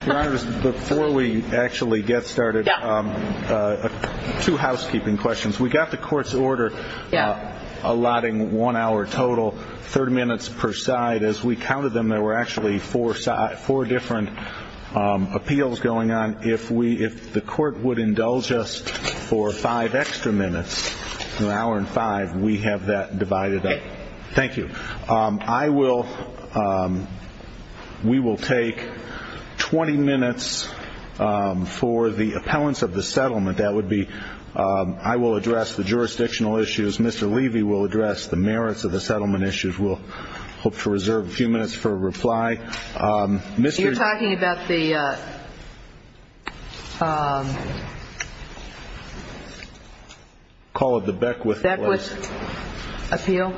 Before we actually get started, two housekeeping questions. We got the court's order allotting one hour total, 30 minutes per side. As we counted them, there were actually four different appeals going on. If the court would indulge us for five extra minutes, an hour and five, we have that divided up. Thank you. We will take 20 minutes for the appellants of the settlement. I will address the jurisdictional issues. Mr. Levy will address the merits of the settlement issues. We'll hope to reserve a few minutes for a reply. You're talking about the Beckwith Appeal?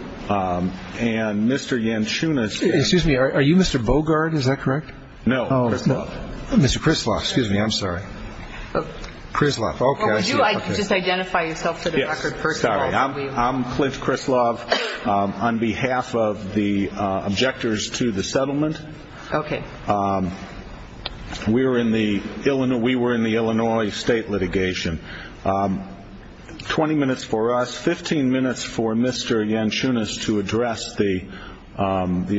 Excuse me, are you Mr. Bogard, is that correct? No, Chris Love. Mr. Chris Love, excuse me, I'm sorry. We were in the Illinois state litigation. 20 minutes for us, 15 minutes for Mr. Yanchunas to address the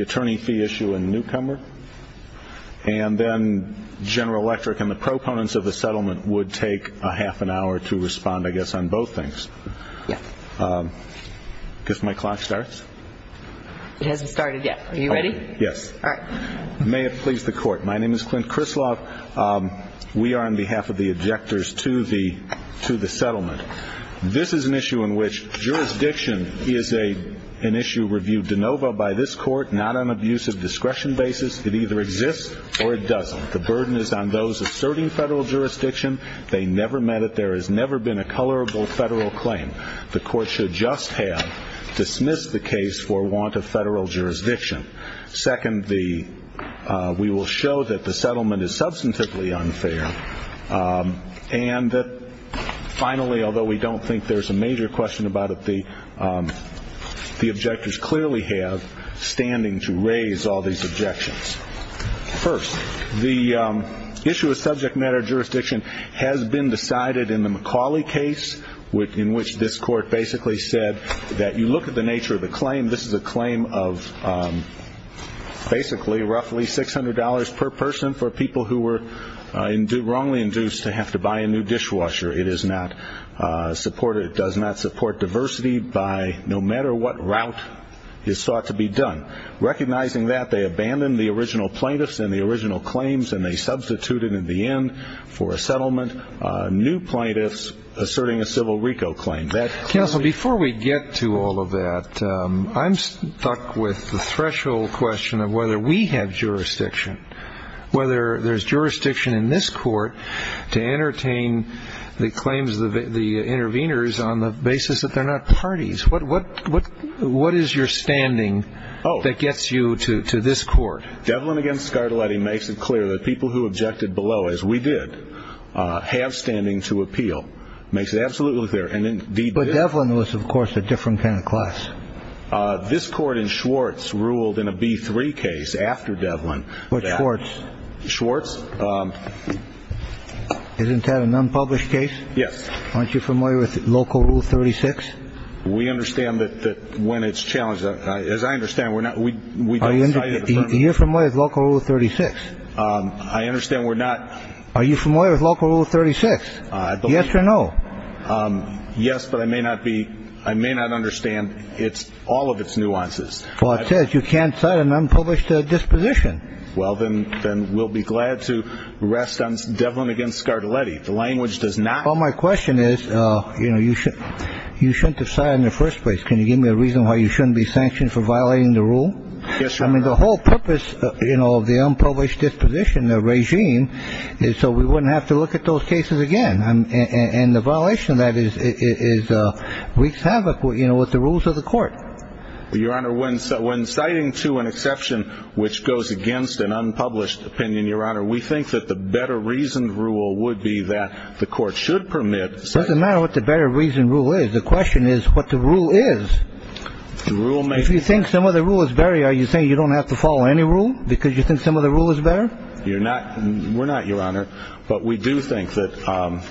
attorney fee issue in Newcomer. And then General Electric and the proponents of the settlement would take half an hour to respond, I guess, on both things. Yes. I guess my clock starts? It hasn't started yet. Are you ready? Yes. May it please the court. My name is Clint Chris Love. We are on behalf of the objectors to the settlement. This is an issue in which jurisdiction is an issue reviewed de novo by this court, not on an abuse of discretion basis. It either exists or it doesn't. The burden is on those asserting federal jurisdiction. They never met it. There has never been a colorable federal claim. The court should just have dismissed the case for want of federal jurisdiction. Second, we will show that the settlement is substantively unfair. And finally, although we don't think there's a major question about it, the objectors clearly have standing to raise all these objections. First, the issue of subject matter jurisdiction has been decided in the McCauley case in which this court basically said that you look at the nature of the claim, this is a claim of basically roughly $600 per person for people who were wrongly induced to have to buy a new dishwasher. It does not support diversity no matter what route is sought to be done. Recognizing that, they abandoned the original plaintiffs and the original claims and they substituted in the end for a settlement new plaintiffs asserting a civil RICO claim. Counsel, before we get to all of that, I'm stuck with the threshold question of whether we have jurisdiction. Whether there's jurisdiction in this court to entertain the claims of the interveners on the basis that they're not parties. What is your standing that gets you to this court? Devlin against Scarlatti makes it clear that people who objected below, as we did, have standing to appeal. Makes it absolutely clear. And indeed, Devlin was, of course, a different kind of class. This court in Schwartz ruled in a B3 case after Devlin. I understand we're not. Are you familiar with local rule 36? Yes or no? Yes, but I may not be. I may not understand. It's all of its nuances. Well, it says you can't sign an unpublished disposition. Well, then then we'll be glad to rest on Devlin against Scarlatti. The language does not. Well, my question is, you know, you should you shouldn't decide in the first place. Can you give me a reason why you shouldn't be sanctioned for violating the rule? Yes. I mean, the whole purpose of the unpublished disposition, the regime is so we wouldn't have to look at those cases again. And the violation of that is is wreaks havoc with the rules of the court. Your Honor, when when citing to an exception which goes against an unpublished opinion, Your Honor, we think that the better reasoned rule would be that the court should permit. Doesn't matter what the better reason rule is. The question is what the rule is. The rule makes you think some of the rule is very. Are you saying you don't have to follow any rule because you think some of the rule is better? You're not. We're not, Your Honor. But we do think that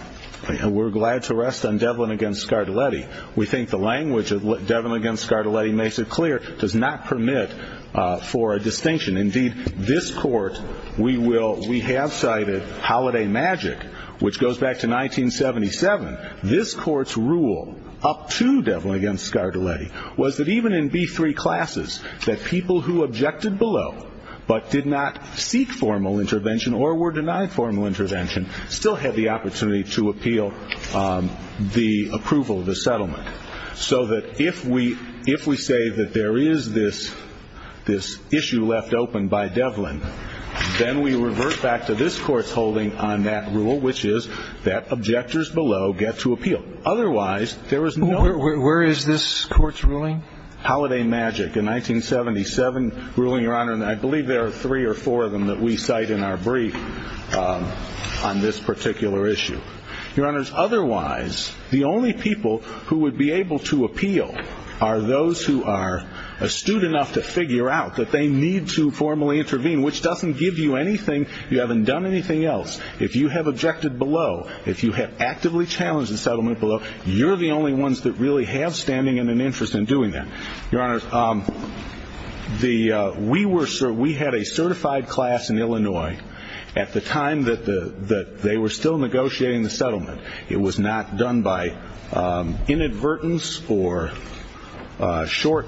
we're glad to rest on Devlin against Scarlatti. We think the language of Devlin against Scarlatti makes it clear, does not permit for a distinction. Indeed, this court, we will we have cited Holiday Magic, which goes back to 1977. This court's rule up to Devlin against Scarlatti was that even in B3 classes that people who objected below but did not seek formal intervention or were denied formal intervention still had the opportunity to appeal the approval of the settlement. So that if we if we say that there is this this issue left open by Devlin, then we revert back to this court's holding on that rule, which is that objectors below get to appeal. Otherwise, there is nowhere. Where is this court's ruling? Holiday Magic in 1977 ruling, Your Honor. And I believe there are three or four of them that we cite in our brief on this particular issue. Your Honor, otherwise, the only people who would be able to appeal are those who are astute enough to figure out that they need to formally intervene, which doesn't give you anything. You haven't done anything else. If you have objected below, if you have actively challenged the settlement below, you're the only ones that really have standing and an interest in doing that. Your Honor, we had a certified class in Illinois at the time that they were still negotiating the settlement. It was not done by inadvertence or short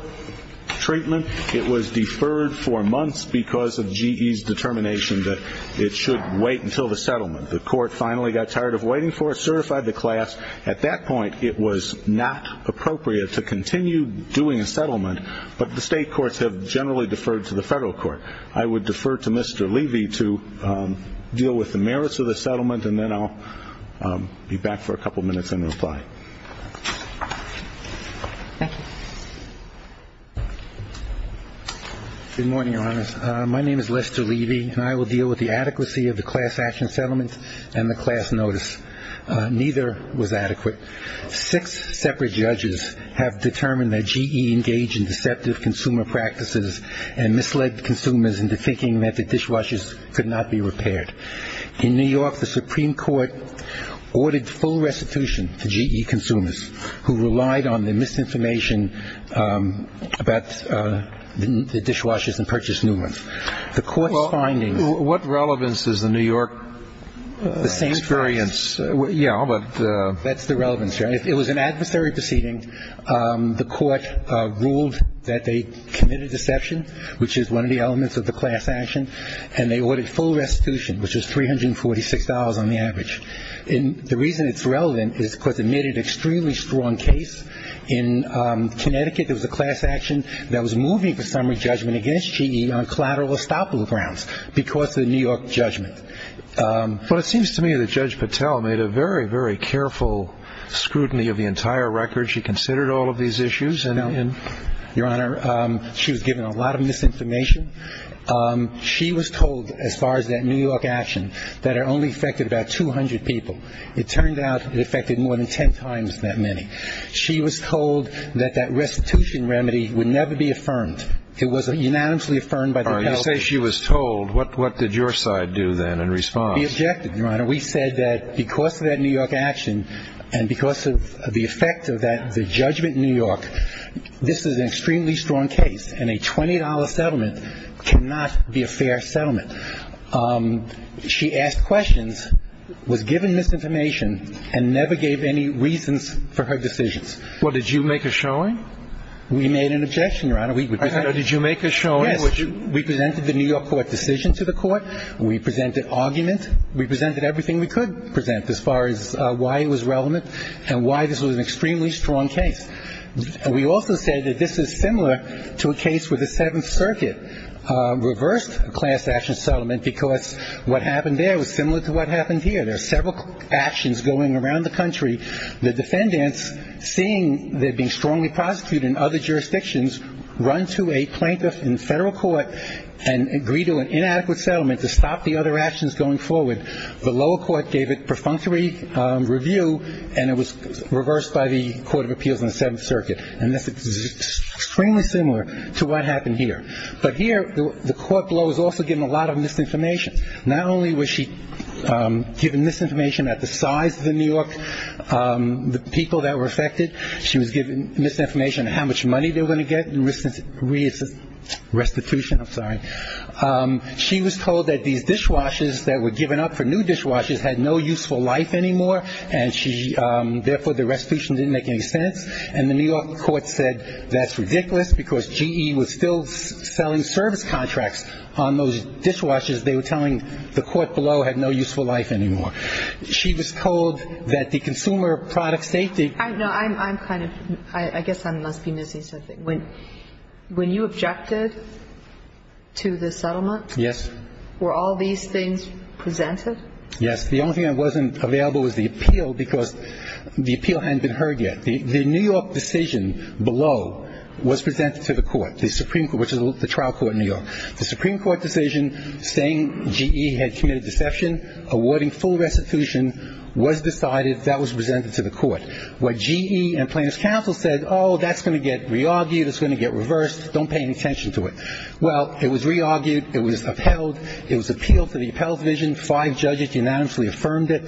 treatment. It was deferred for months because of GE's determination that it should wait until the settlement. The court finally got tired of waiting for it, certified the class. At that point, it was not appropriate to continue doing a settlement. But the state courts have generally deferred to the federal court. I would defer to Mr. Levy to deal with the merits of the settlement, and then I'll be back for a couple of minutes in reply. Thank you. Good morning, Your Honors. My name is Lester Levy, and I will deal with the adequacy of the class action settlement and the class notice. Neither was adequate. Six separate judges have determined that GE engaged in deceptive consumer practices and misled consumers into thinking that the dishwashers could not be repaired. In New York, the Supreme Court ordered full restitution to GE consumers who relied on the misinformation about the dishwashers and purchased new ones. The court's findings… Well, what relevance does the New York experience… The same relevance. Yeah, but… It was an adversary proceeding. The court ruled that they committed deception, which is one of the elements of the class action, and they ordered full restitution, which was $346 on the average. And the reason it's relevant is because it made an extremely strong case. In Connecticut, there was a class action that was moving the summary judgment against GE on collateral estoppel grounds because of the New York judgment. Well, it seems to me that Judge Patel made a very, very careful scrutiny of the entire record. She considered all of these issues and… Your Honor, she was given a lot of misinformation. She was told, as far as that New York action, that it only affected about 200 people. It turned out it affected more than 10 times that many. She was told that that restitution remedy would never be affirmed. It was unanimously affirmed by the health… When you say she was told, what did your side do then in response? We objected, Your Honor. We said that because of that New York action and because of the effect of the judgment in New York, this is an extremely strong case, and a $20 settlement cannot be a fair settlement. She asked questions, was given misinformation, and never gave any reasons for her decisions. Well, did you make a showing? We made an objection, Your Honor. Did you make a showing? Yes. We presented the New York court decision to the court. We presented argument. We presented everything we could present as far as why it was relevant and why this was an extremely strong case. We also said that this is similar to a case where the Seventh Circuit reversed a class action settlement because what happened there was similar to what happened here. There are several actions going around the country. The defendants, seeing they're being strongly prosecuted in other jurisdictions, run to a plaintiff in federal court and agree to an inadequate settlement to stop the other actions going forward. The lower court gave it perfunctory review, and it was reversed by the Court of Appeals in the Seventh Circuit. And this is extremely similar to what happened here. But here, the court below was also given a lot of misinformation. Not only was she given misinformation at the size of the New York people that were affected, she was given misinformation on how much money they were going to get in restitution. I'm sorry. She was told that these dishwashers that were given up for new dishwashers had no useful life anymore, and she – therefore, the restitution didn't make any sense. And the New York court said that's ridiculous because GE was still selling service contracts on those dishwashers. They were telling the court below had no useful life anymore. She was told that the consumer product safety – to the settlement? Yes. Were all these things presented? Yes. The only thing that wasn't available was the appeal because the appeal hadn't been heard yet. The New York decision below was presented to the court, the Supreme – which is the trial court in New York. The Supreme Court decision saying GE had committed deception, awarding full restitution, was decided. That was presented to the court. What GE and plaintiff's counsel said, oh, that's going to get re-argued. It's going to get reversed. Don't pay any attention to it. Well, it was re-argued. It was upheld. It was appealed to the appellate division. Five judges unanimously affirmed it.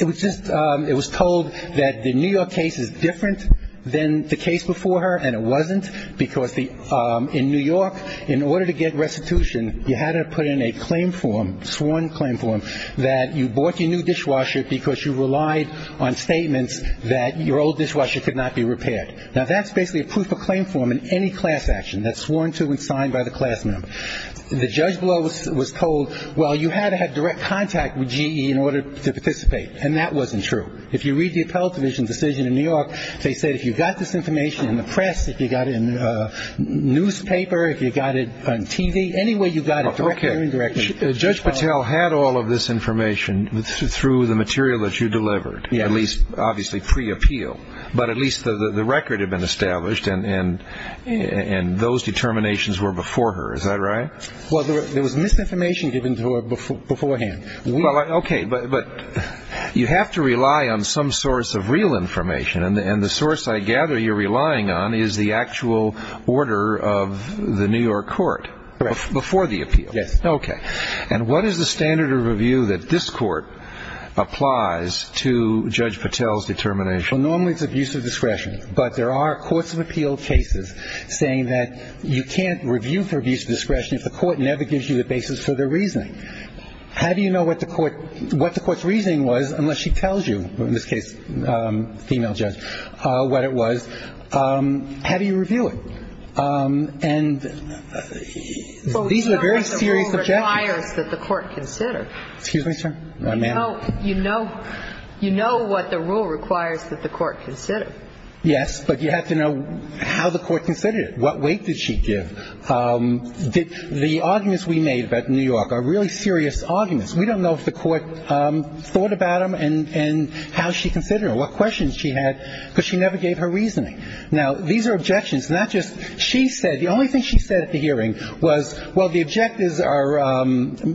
It was just – it was told that the New York case is different than the case before her, and it wasn't because the – in New York, in order to get restitution, you had to put in a claim form, sworn claim form, that you bought your new dishwasher because you relied on statements that your old dishwasher could not be repaired. Now, that's basically a proof of claim form in any class action. That's sworn to and signed by the class member. The judge below was told, well, you had to have direct contact with GE in order to participate, and that wasn't true. If you read the appellate division decision in New York, they said if you got this information in the press, if you got it in a newspaper, if you got it on TV, any way you got it, directly or indirectly – Okay. Judge Patel had all of this information through the material that you delivered, at least, obviously, pre-appeal. But at least the record had been established, and those determinations were before her. Is that right? Well, there was misinformation given to her beforehand. Okay, but you have to rely on some source of real information, and the source I gather you're relying on is the actual order of the New York court before the appeal. Yes. Okay. And what is the standard of review that this court applies to Judge Patel's determination? Well, normally it's abuse of discretion, but there are courts of appeal cases saying that you can't review for abuse of discretion if the court never gives you the basis for their reasoning. How do you know what the court's reasoning was, unless she tells you, in this case, the female judge, what it was? How do you review it? And these are very serious objections. Well, you know what the rule requires that the court consider. Excuse me, sir? You know what the rule requires that the court consider. Yes, but you have to know how the court considered it. What weight did she give? The arguments we made about New York are really serious arguments. We don't know if the court thought about them and how she considered them, what questions she had, because she never gave her reasoning. Now, these are objections, not just she said. The only thing she said at the hearing was, well, the objectives are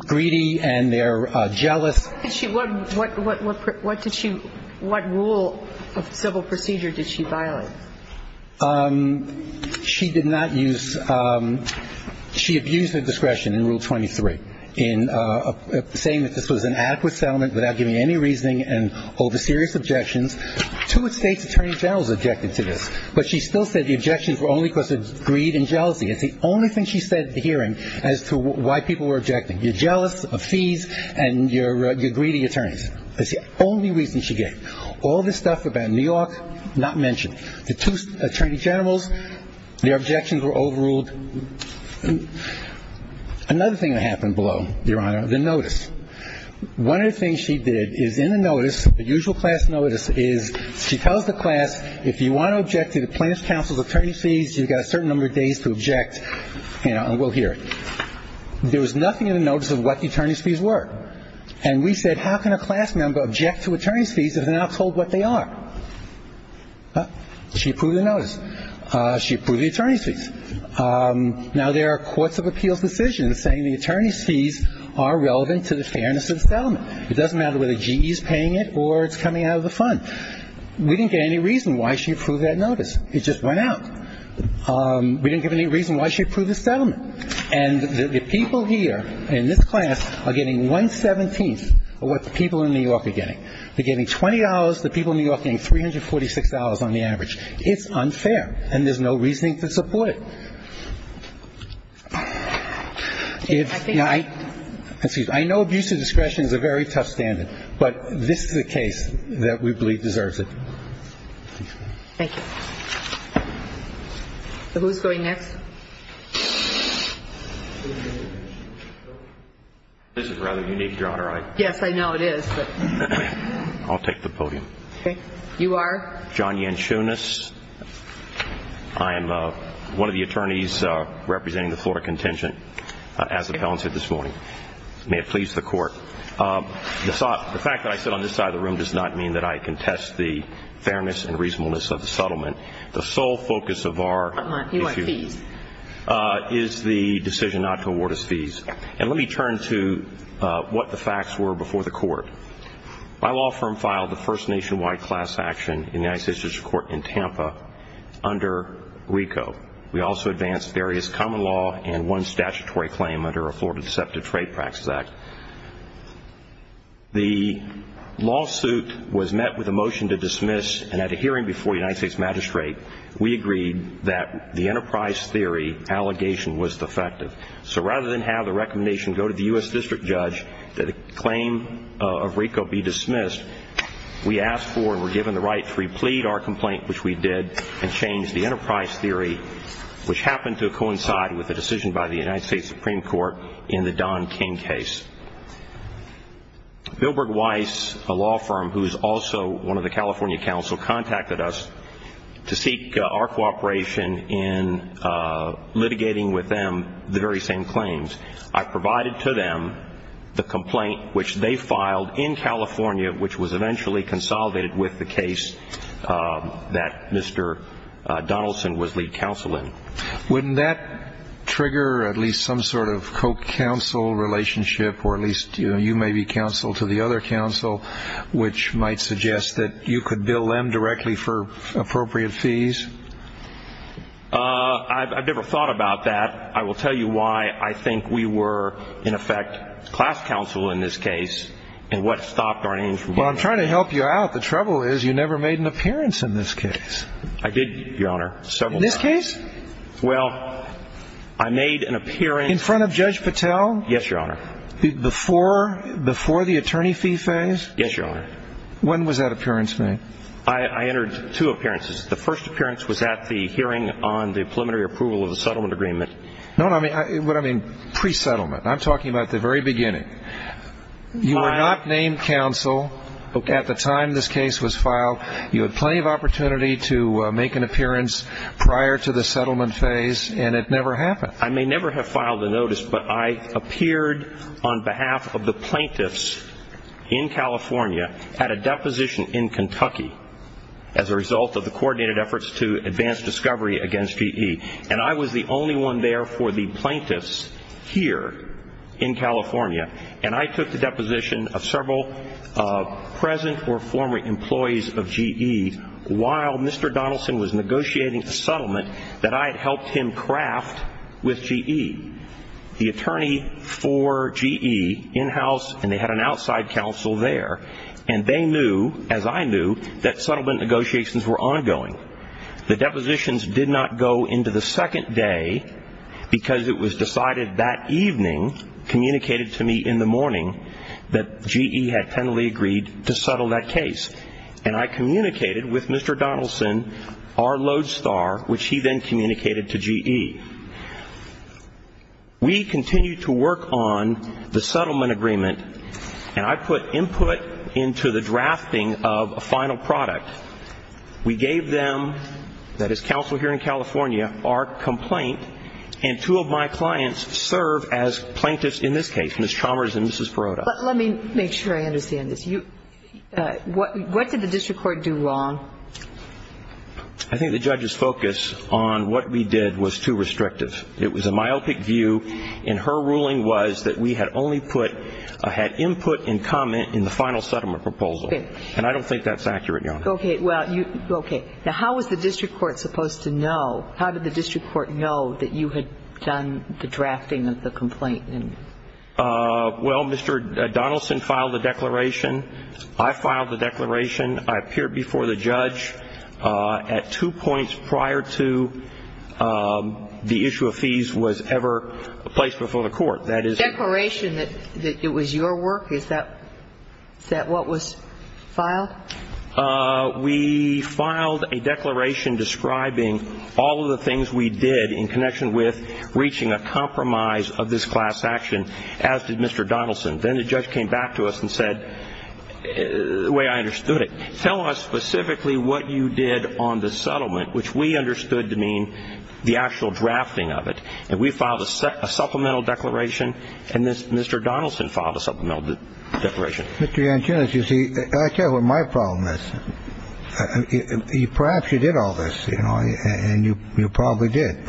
greedy and they're jealous. What rule of civil procedure did she violate? She did not use ‑‑ she abused her discretion in Rule 23 in saying that this was an adequate settlement without giving any reasoning and over serious objections. Two of state's attorney generals objected to this, but she still said the objections were only because of greed and jealousy. It's the only thing she said at the hearing as to why people were objecting. You're jealous of fees and you're greedy attorneys. That's the only reason she gave. All this stuff about New York, not mentioned. The two attorney generals, their objections were overruled. Another thing that happened below, Your Honor, the notice. One of the things she did is in the notice, the usual class notice, is she tells the class, if you want to object to the plaintiff's counsel's attorney's fees, you've got a certain number of days to object and we'll hear it. There was nothing in the notice of what the attorney's fees were. And we said, how can a class member object to attorney's fees if they're not told what they are? She approved the notice. She approved the attorney's fees. Now, there are courts of appeals decisions saying the attorney's fees are relevant to the fairness of the settlement. It doesn't matter whether GE is paying it or it's coming out of the fund. We didn't get any reason why she approved that notice. It just went out. We didn't get any reason why she approved the settlement. And the people here in this class are getting one-seventeenth of what the people in New York are getting. They're getting $20. The people in New York are getting $346 on the average. It's unfair. And there's no reasoning to support it. I know abuse of discretion is a very tough standard, but this is a case that we believe deserves it. Thank you. Who's going next? This is rather unique, Your Honor. Yes, I know it is. I'll take the podium. Okay. You are? John Yanchunas. I am one of the attorneys representing the Florida Contingent as appellants here this morning. May it please the Court. The fact that I sit on this side of the room does not mean that I contest the fairness and reasonableness of the settlement. The sole focus of our issue is the decision not to award us fees. And let me turn to what the facts were before the Court. My law firm filed the first nationwide class action in the United States District Court in Tampa under RICO. We also advanced various common law and one statutory claim under a Florida Deceptive Trade Practices Act. The lawsuit was met with a motion to dismiss, and at a hearing before the United States Magistrate, we agreed that the enterprise theory allegation was defective. So rather than have the recommendation go to the U.S. District Judge that a claim of RICO be dismissed, we asked for and were given the right to replead our complaint, which we did, and change the enterprise theory, which happened to coincide with a decision by the United States Supreme Court in the Don King case. Bilberg Weiss, a law firm who is also one of the California counsel, contacted us to seek our cooperation in litigating with them the very same claims. I provided to them the complaint which they filed in California, which was eventually consolidated with the case that Mr. Donaldson was lead counsel in. Wouldn't that trigger at least some sort of co-counsel relationship, or at least you may be counsel to the other counsel, which might suggest that you could bill them directly for appropriate fees? I've never thought about that. But I will tell you why I think we were, in effect, class counsel in this case, and what stopped our name from being. Well, I'm trying to help you out. The trouble is you never made an appearance in this case. I did, Your Honor, several times. In this case? Well, I made an appearance. In front of Judge Patel? Yes, Your Honor. Before the attorney fee phase? Yes, Your Honor. When was that appearance made? I entered two appearances. The first appearance was at the hearing on the preliminary approval of the settlement agreement. No, what I mean, pre-settlement. I'm talking about the very beginning. You were not named counsel at the time this case was filed. You had plenty of opportunity to make an appearance prior to the settlement phase, and it never happened. I may never have filed a notice, but I appeared on behalf of the plaintiffs in California at a deposition in Kentucky as a result of the coordinated efforts to advance discovery against GE, and I was the only one there for the plaintiffs here in California, and I took the deposition of several present or former employees of GE while Mr. Donaldson was negotiating a settlement that I had helped him craft with GE. The attorney for GE in-house, and they had an outside counsel there, and they knew, as I knew, that settlement negotiations were ongoing. The depositions did not go into the second day because it was decided that evening, communicated to me in the morning, that GE had finally agreed to settle that case, and I communicated with Mr. Donaldson, our lodestar, which he then communicated to GE. We continued to work on the settlement agreement, and I put input into the drafting of a final product. We gave them, that is counsel here in California, our complaint, and two of my clients serve as plaintiffs in this case, Ms. Chalmers and Mrs. Perrotta. But let me make sure I understand this. What did the district court do wrong? I think the judge's focus on what we did was too restrictive. It was a myopic view, and her ruling was that we had only put, had input and comment in the final settlement proposal, and I don't think that's accurate, Your Honor. Okay. Now, how was the district court supposed to know, how did the district court know that you had done the drafting of the complaint? Well, Mr. Donaldson filed the declaration. I filed the declaration. I appeared before the judge at two points prior to the issue of fees was ever placed before the court. The declaration that it was your work, is that what was filed? We filed a declaration describing all of the things we did in connection with reaching a compromise of this class action, as did Mr. Donaldson. Then the judge came back to us and said, the way I understood it, tell us specifically what you did on the settlement, which we understood to mean the actual drafting of it. And we filed a supplemental declaration, and Mr. Donaldson filed a supplemental declaration. Mr. Yanchunas, you see, I'll tell you what my problem is. Perhaps you did all this, you know, and you probably did,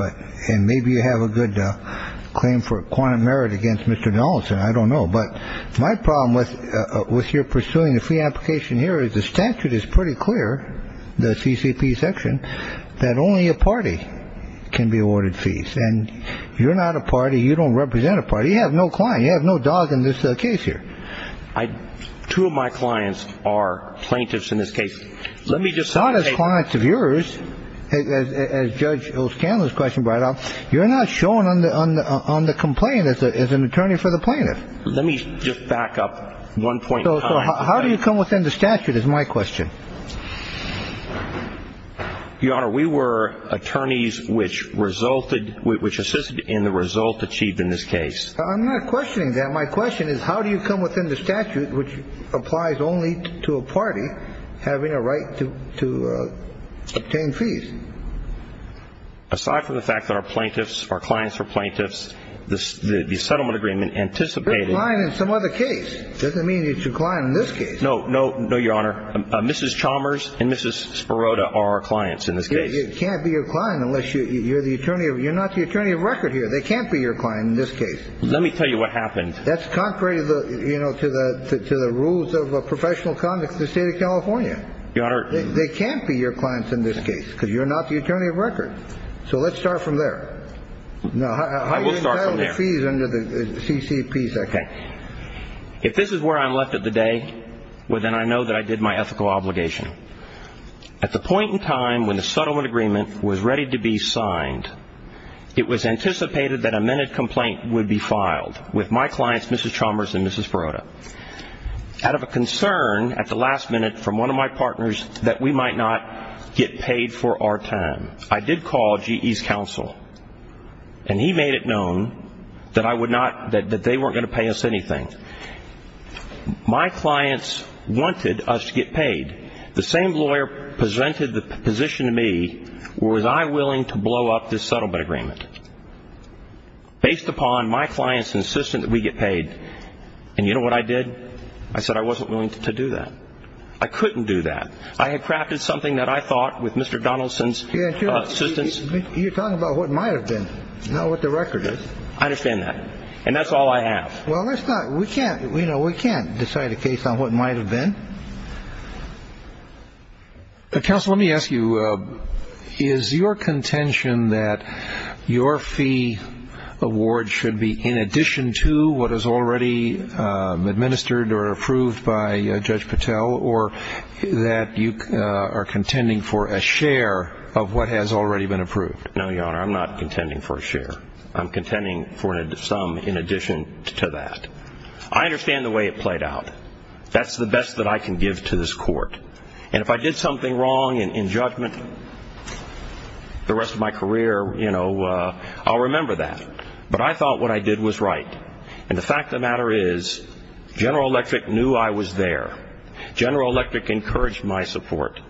and maybe you have a good claim for a quantum merit against Mr. Donaldson. I don't know. But my problem with your pursuing the fee application here is the statute is pretty clear, the CCP section, that only a party can be awarded fees. And you're not a party. You don't represent a party. You have no client. You have no dog in this case here. Two of my clients are plaintiffs in this case. Let me just say. As Judge O'Scanlon's question brought up, you're not showing on the complaint as an attorney for the plaintiff. Let me just back up one point. How do you come within the statute is my question. Your Honor, we were attorneys which resulted, which assisted in the result achieved in this case. I'm not questioning that. My question is, how do you come within the statute which applies only to a party having a right to obtain fees? Aside from the fact that our plaintiffs, our clients are plaintiffs, the settlement agreement anticipated. You're a client in some other case. Doesn't mean you're a client in this case. No, no, no, Your Honor. Mrs. Chalmers and Mrs. Sperota are our clients in this case. They can't be your client unless you're the attorney. You're not the attorney of record here. They can't be your client in this case. Let me tell you what happened. That's contrary to the rules of professional conduct in the state of California. Your Honor. They can't be your clients in this case because you're not the attorney of record. So let's start from there. I will start from there. How do you entitle the fees under the CCP section? If this is where I'm left at the day, well, then I know that I did my ethical obligation. At the point in time when the settlement agreement was ready to be signed, it was anticipated that a minute complaint would be filed with my clients, Mrs. Chalmers and Mrs. Sperota, out of a concern at the last minute from one of my partners that we might not get paid for our time. I did call GE's counsel, and he made it known that they weren't going to pay us anything. The same lawyer presented the position to me. Was I willing to blow up this settlement agreement based upon my clients insistent that we get paid? And you know what I did? I said I wasn't willing to do that. I couldn't do that. I had crafted something that I thought with Mr. Donaldson's assistance. You're talking about what might have been, not what the record is. I understand that. And that's all I have. Well, let's not. We can't decide a case on what might have been. Counsel, let me ask you, is your contention that your fee award should be in addition to what is already administered or approved by Judge Patel, or that you are contending for a share of what has already been approved? No, Your Honor, I'm not contending for a share. I'm contending for some in addition to that. I understand the way it played out. That's the best that I can give to this court. And if I did something wrong in judgment the rest of my career, you know, I'll remember that. But I thought what I did was right. And the fact of the matter is General Electric knew I was there. General Electric encouraged my support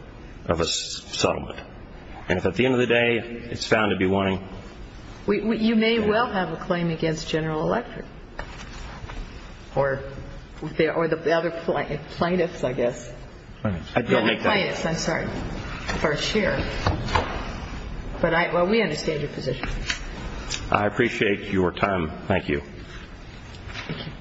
of a settlement. And if at the end of the day it's found to be wanting. You may well have a claim against General Electric. Or the other plaintiffs, I guess. I don't make that claim. I'm sorry. For a share. But we understand your position. I appreciate your time. Thank you. Thank you.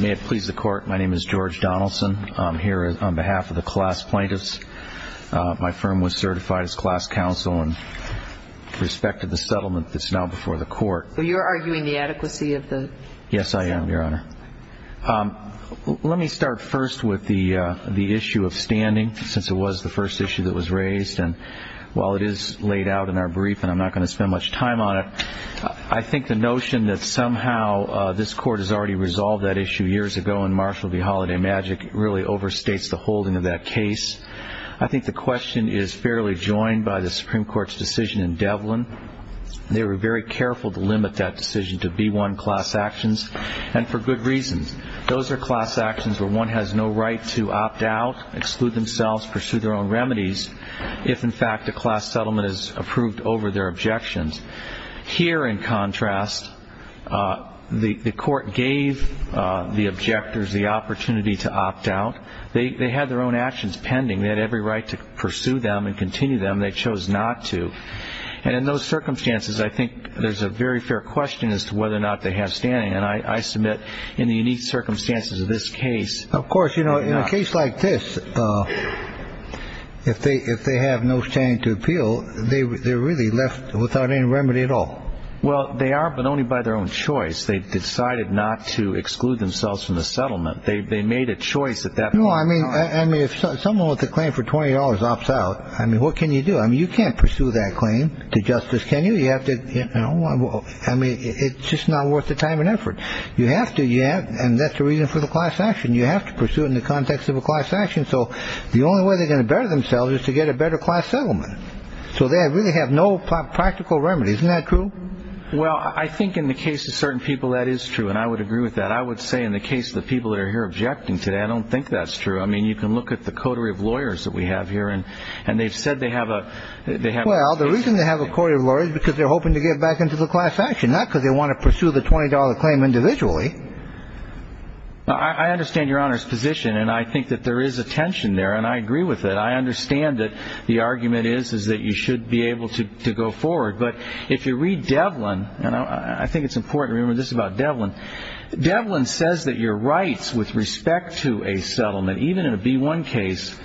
May it please the Court, my name is George Donaldson. I'm here on behalf of the class plaintiffs. My firm was certified as class counsel in respect to the settlement that's now before the court. You're arguing the adequacy of the settlement? Yes, I am, Your Honor. Let me start first with the issue of standing, since it was the first issue that was raised. And while it is laid out in our brief, and I'm not going to spend much time on it, I think the notion that somehow this court has already resolved that issue years ago in Marshall v. Holiday Magic really overstates the holding of that case. I think the question is fairly joined by the Supreme Court's decision in Devlin. They were very careful to limit that decision to B-1 class actions, and for good reason. Those are class actions where one has no right to opt out, exclude themselves, pursue their own remedies, if, in fact, a class settlement is approved over their objections. Here, in contrast, the court gave the objectors the opportunity to opt out. They had their own actions pending. They had every right to pursue them and continue them. They chose not to. And in those circumstances, I think there's a very fair question as to whether or not they have standing. And I submit in the unique circumstances of this case. Of course, you know, in a case like this, if they have no standing to appeal, they're really left without any remedy at all. Well, they are, but only by their own choice. They've decided not to exclude themselves from the settlement. They made a choice at that point. No, I mean, if someone with a claim for $20 opts out, I mean, what can you do? I mean, you can't pursue that claim to justice, can you? I mean, it's just not worth the time and effort. You have to. And that's the reason for the class action. You have to pursue it in the context of a class action. So the only way they're going to better themselves is to get a better class settlement. So they really have no practical remedies. Isn't that true? Well, I think in the case of certain people, that is true. And I would agree with that. I would say in the case of the people that are here objecting today, I don't think that's true. I mean, you can look at the coterie of lawyers that we have here, and they've said they have a. Well, the reason they have a coterie of lawyers is because they're hoping to get back into the class action, not because they want to pursue the $20 claim individually. I understand Your Honor's position, and I think that there is a tension there, and I agree with it. I understand that the argument is that you should be able to go forward. But if you read Devlin, and I think it's important to remember this about Devlin, Devlin says that your rights with respect to a settlement, even in a B-1 case,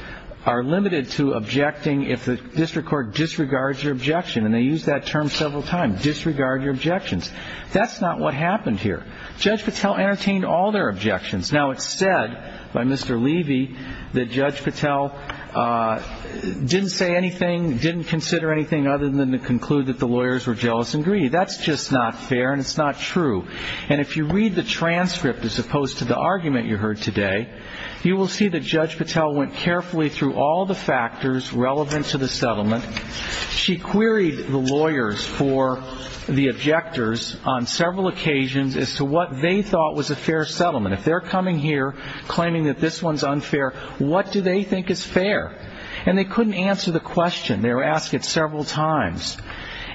are limited to objecting if the district court disregards your objection. And they use that term several times, disregard your objections. That's not what happened here. Judge Patel entertained all their objections. Now, it's said by Mr. Levy that Judge Patel didn't say anything, didn't consider anything other than to conclude that the lawyers were jealous and greedy. That's just not fair, and it's not true. And if you read the transcript as opposed to the argument you heard today, you will see that Judge Patel went carefully through all the factors relevant to the settlement. She queried the lawyers for the objectors on several occasions as to what they thought was a fair settlement. If they're coming here claiming that this one's unfair, what do they think is fair? And they couldn't answer the question. They were asked it several times.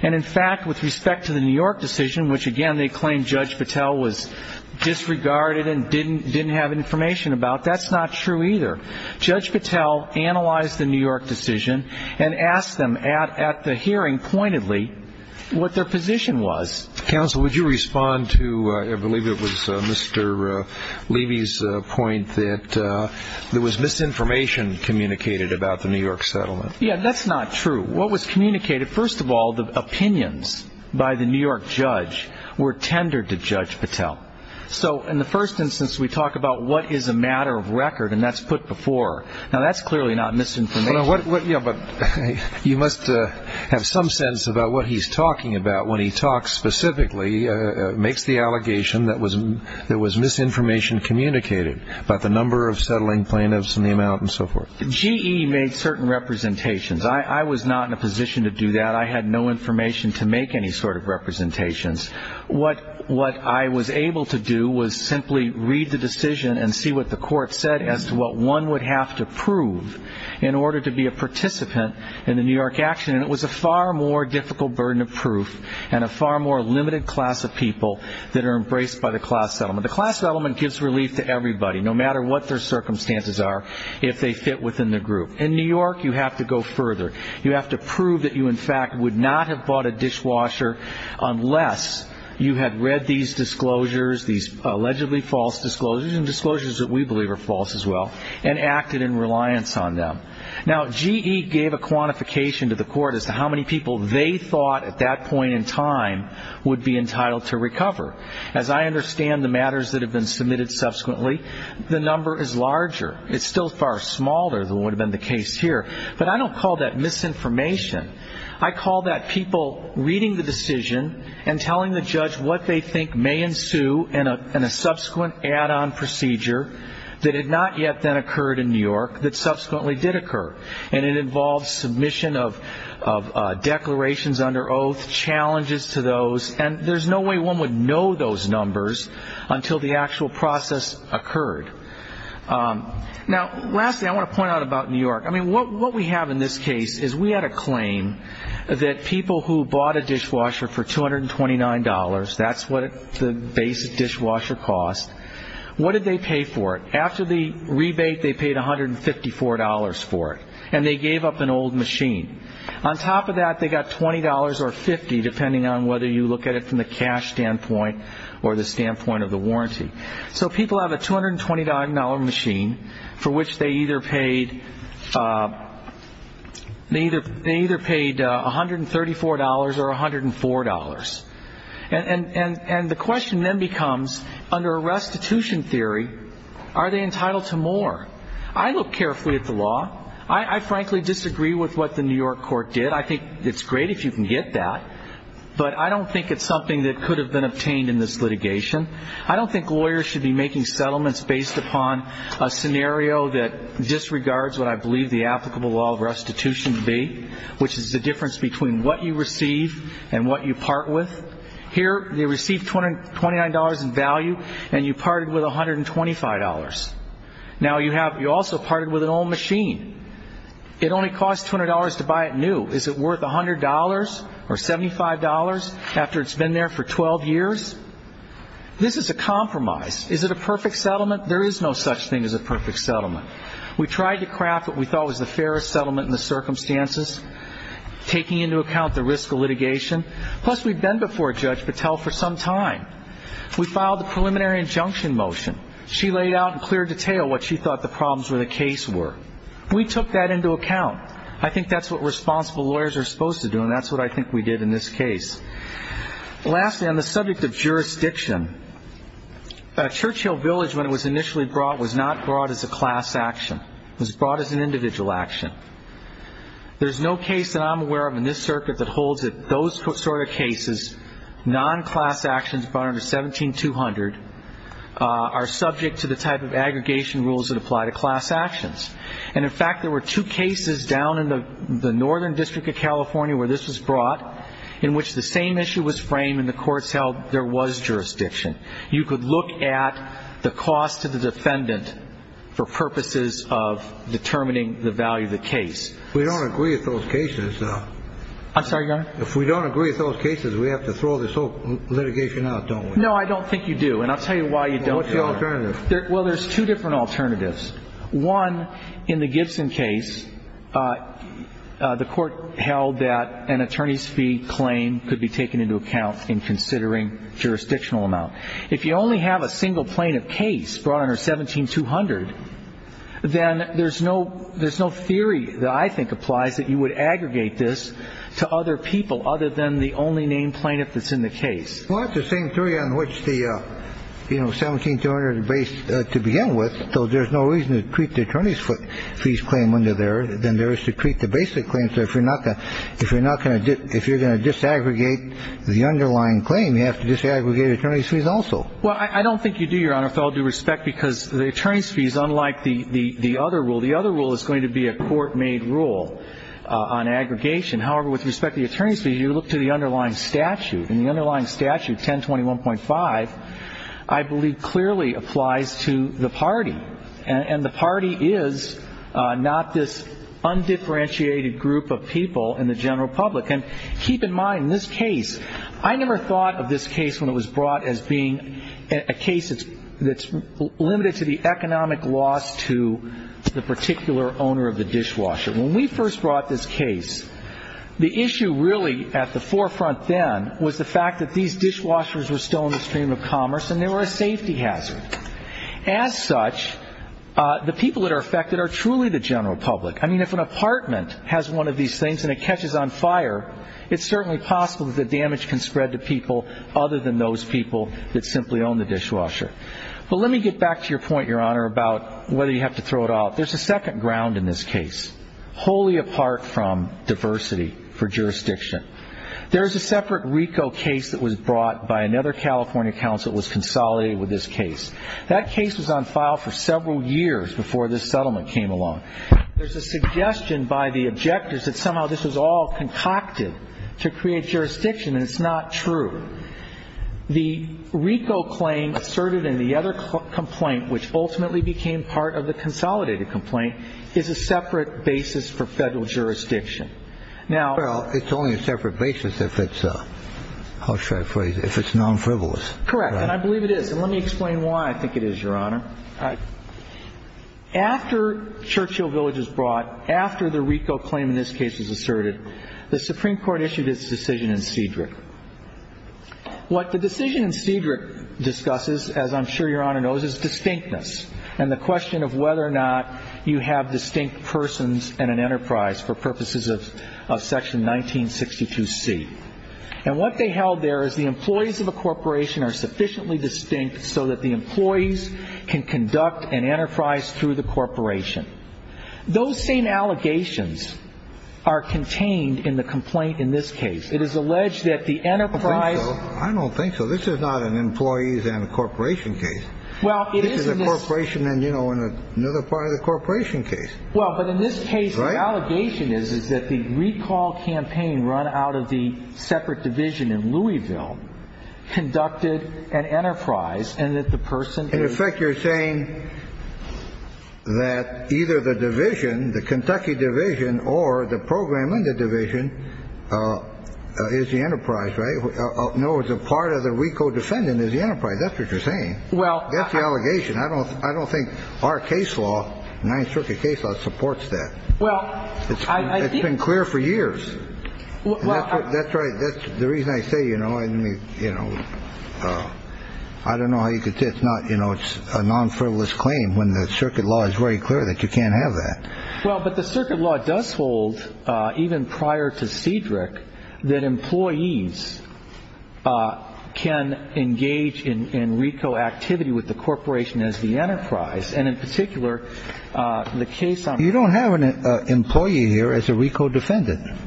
And, in fact, with respect to the New York decision, which, again, they claimed Judge Patel was disregarded and didn't have information about, that's not true either. Judge Patel analyzed the New York decision and asked them at the hearing pointedly what their position was. Counsel, would you respond to, I believe it was Mr. Levy's point, that there was misinformation communicated about the New York settlement? Yeah, that's not true. What was communicated? First of all, the opinions by the New York judge were tendered to Judge Patel. So in the first instance, we talk about what is a matter of record, and that's put before. Now, that's clearly not misinformation. But you must have some sense about what he's talking about when he talks specifically, makes the allegation that there was misinformation communicated about the number of settling plaintiffs and the amount and so forth. GE made certain representations. I was not in a position to do that. I had no information to make any sort of representations. What I was able to do was simply read the decision and see what the court said as to what one would have to prove in order to be a participant in the New York action. And it was a far more difficult burden of proof and a far more limited class of people that are embraced by the class settlement. The class settlement gives relief to everybody, no matter what their circumstances are, if they fit within the group. In New York, you have to go further. You have to prove that you, in fact, would not have bought a dishwasher unless you had read these disclosures, these allegedly false disclosures, and disclosures that we believe are false as well, and acted in reliance on them. Now, GE gave a quantification to the court as to how many people they thought at that point in time would be entitled to recover. As I understand the matters that have been submitted subsequently, the number is larger. It's still far smaller than what would have been the case here. But I don't call that misinformation. I call that people reading the decision and telling the judge what they think may ensue in a subsequent add-on procedure that had not yet then occurred in New York, that subsequently did occur. And it involves submission of declarations under oath, challenges to those, and there's no way one would know those numbers until the actual process occurred. Now, lastly, I want to point out about New York. I mean, what we have in this case is we had a claim that people who bought a dishwasher for $229, that's what the basic dishwasher cost, what did they pay for it? After the rebate, they paid $154 for it, and they gave up an old machine. On top of that, they got $20 or $50, depending on whether you look at it from the cash standpoint or the standpoint of the warranty. So people have a $229 machine for which they either paid $134 or $104. And the question then becomes, under a restitution theory, are they entitled to more? I look carefully at the law. I frankly disagree with what the New York court did. I think it's great if you can get that, but I don't think it's something that could have been obtained in this litigation. I don't think lawyers should be making settlements based upon a scenario that disregards what I believe the applicable law of restitution to be, which is the difference between what you receive and what you part with. Here they received $229 in value, and you parted with $125. Now you also parted with an old machine. It only cost $200 to buy it new. Is it worth $100 or $75 after it's been there for 12 years? This is a compromise. Is it a perfect settlement? There is no such thing as a perfect settlement. We tried to craft what we thought was the fairest settlement in the circumstances, taking into account the risk of litigation. Plus, we'd been before Judge Patel for some time. We filed the preliminary injunction motion. She laid out in clear detail what she thought the problems with the case were. We took that into account. I think that's what responsible lawyers are supposed to do, and that's what I think we did in this case. Lastly, on the subject of jurisdiction, Churchill Village, when it was initially brought, was not brought as a class action. It was brought as an individual action. There's no case that I'm aware of in this circuit that holds those sort of cases, non-class actions brought under 17-200, are subject to the type of aggregation rules that apply to class actions. And, in fact, there were two cases down in the Northern District of California where this was brought in which the same issue was framed and the courts held there was jurisdiction. You could look at the cost to the defendant for purposes of determining the value of the case. We don't agree with those cases, though. I'm sorry, Your Honor? If we don't agree with those cases, we have to throw this whole litigation out, don't we? No, I don't think you do, and I'll tell you why you don't, Your Honor. What's the alternative? Well, there's two different alternatives. One, in the Gibson case, the court held that an attorney's fee claim could be taken into account in considering jurisdictional amount. If you only have a single plaintiff case brought under 17-200, then there's no theory that I think applies that you would aggregate this to other people other than the only named plaintiff that's in the case. Well, it's the same theory on which the 17-200 is based to begin with, so there's no reason to treat the attorney's fees claim under there than there is to treat the basic claim. So if you're going to disaggregate the underlying claim, you have to disaggregate attorney's fees also. Well, I don't think you do, Your Honor, with all due respect, because the attorney's fees, unlike the other rule, the other rule is going to be a court-made rule on aggregation. However, with respect to the attorney's fees, you look to the underlying statute, and the underlying statute, 1021.5, I believe clearly applies to the party, and the party is not this undifferentiated group of people in the general public. And keep in mind, in this case, I never thought of this case when it was brought as being a case that's limited to the economic loss to the particular owner of the dishwasher. When we first brought this case, the issue really at the forefront then was the fact that these dishwashers were still in the stream of commerce and they were a safety hazard. As such, the people that are affected are truly the general public. I mean, if an apartment has one of these things and it catches on fire, it's certainly possible that the damage can spread to people other than those people that simply own the dishwasher. But let me get back to your point, Your Honor, about whether you have to throw it out. There's a second ground in this case, wholly apart from diversity for jurisdiction. There is a separate RICO case that was brought by another California counsel that was consolidated with this case. That case was on file for several years before this settlement came along. There's a suggestion by the objectors that somehow this was all concocted to create jurisdiction, and it's not true. The RICO claim asserted in the other complaint, which ultimately became part of the consolidated complaint, is a separate basis for federal jurisdiction. Well, it's only a separate basis if it's non-frivolous. Correct. And I believe it is. And let me explain why I think it is, Your Honor. After Churchill Village was brought, after the RICO claim in this case was asserted, the Supreme Court issued its decision in Cedric. What the decision in Cedric discusses, as I'm sure Your Honor knows, is distinctness and the question of whether or not you have distinct persons in an enterprise for purposes of Section 1962C. And what they held there is the employees of a corporation are sufficiently distinct so that the employees can conduct an enterprise through the corporation. Those same allegations are contained in the complaint in this case. It is alleged that the enterprise. I don't think so. This is not an employees and a corporation case. This is a corporation and, you know, another part of the corporation case. Well, but in this case, the allegation is that the recall campaign run out of the separate division in Louisville conducted an enterprise and that the person is. In effect, you're saying that either the division, the Kentucky division, or the program in the division is the enterprise, right? No, it's a part of the RICO defendant is the enterprise. That's what you're saying. Well. That's the allegation. I don't think our case law, Ninth Circuit case law, supports that. Well, I think. It's been clear for years. That's right. The reason I say, you know, you know, I don't know how you could say it's not, you know, it's a non-frivolous claim when the circuit law is very clear that you can't have that. Well, but the circuit law does hold, even prior to Cedric, that employees can engage in RICO activity with the corporation as the enterprise. And in particular, the case. You don't have an employee here as a RICO defendant.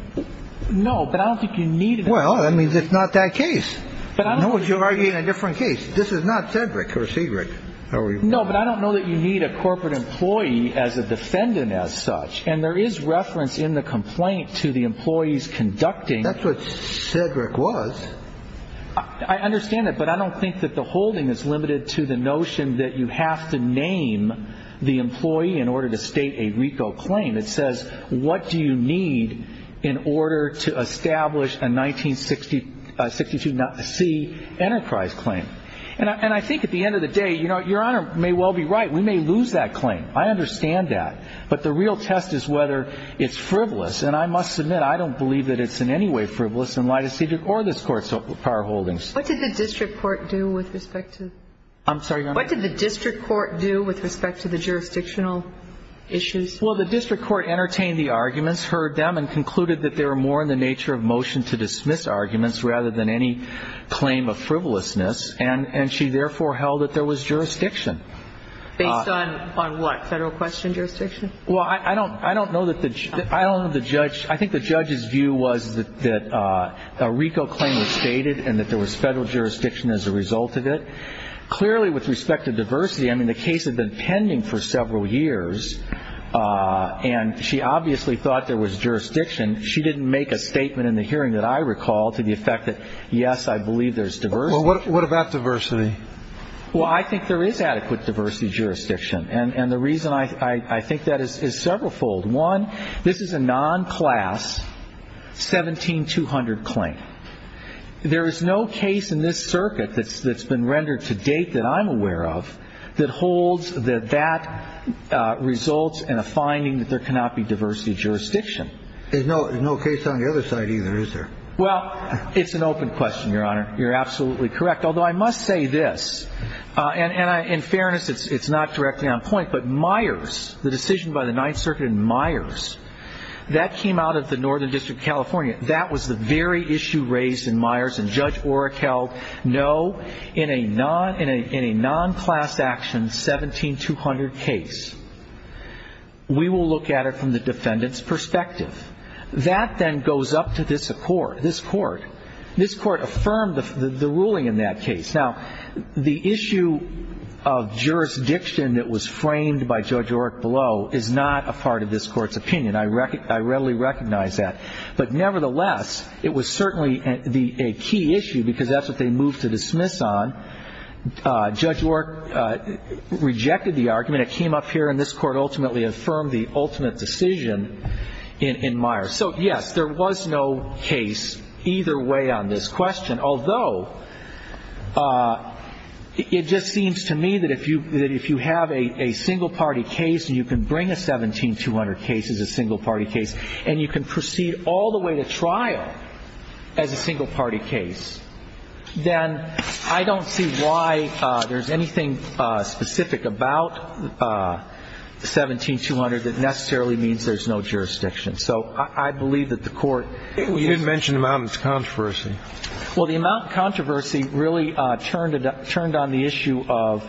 No, but I don't think you need. Well, I mean, it's not that case. But I know what you're arguing a different case. This is not Cedric or Cedric. No, but I don't know that you need a corporate employee as a defendant as such. And there is reference in the complaint to the employees conducting. That's what Cedric was. I understand that. But I don't think that the holding is limited to the notion that you have to name the employee in order to state a RICO claim. It says, what do you need in order to establish a 1962 C enterprise claim? And I think at the end of the day, you know, Your Honor may well be right. We may lose that claim. I understand that. But the real test is whether it's frivolous. And I must admit, I don't believe that it's in any way frivolous in light of Cedric or this Court's prior holdings. What did the district court do with respect to the jurisdictional issues? Well, the district court entertained the arguments, heard them, and concluded that they were more in the nature of motion to dismiss arguments rather than any claim of frivolousness. And she therefore held that there was jurisdiction. Based on what? Federal question jurisdiction? Well, I don't know that the judge – I think the judge's view was that a RICO claim was stated and that there was federal jurisdiction as a result of it. Clearly, with respect to diversity, I mean, the case had been pending for several years, and she obviously thought there was jurisdiction. She didn't make a statement in the hearing that I recall to the effect that, yes, I believe there's diversity. Well, what about diversity? Well, I think there is adequate diversity jurisdiction. And the reason I think that is severalfold. One, this is a non-class 17200 claim. There is no case in this circuit that's been rendered to date that I'm aware of that holds that that results in a finding that there cannot be diversity jurisdiction. There's no case on the other side either, is there? Well, it's an open question, Your Honor. You're absolutely correct. Although I must say this, and in fairness it's not directly on point, but Myers, the decision by the Ninth Circuit in Myers, that came out of the Northern District of California. That was the very issue raised in Myers, and Judge Oreck held no, in a non-class action 17200 case. We will look at it from the defendant's perspective. That then goes up to this court. This court affirmed the ruling in that case. Now, the issue of jurisdiction that was framed by Judge Oreck below is not a part of this court's opinion. I readily recognize that. But nevertheless, it was certainly a key issue because that's what they moved to dismiss on. Judge Oreck rejected the argument. It came up here, and this court ultimately affirmed the ultimate decision in Myers. So, yes, there was no case either way on this question, although it just seems to me that if you have a single-party case and you can bring a 17200 case as a single-party case and you can proceed all the way to trial as a single-party case, then I don't see why there's anything specific about the 17200 that necessarily means there's no jurisdiction. So I believe that the court used the court. You didn't mention the amount of controversy. Well, the amount of controversy really turned on the issue of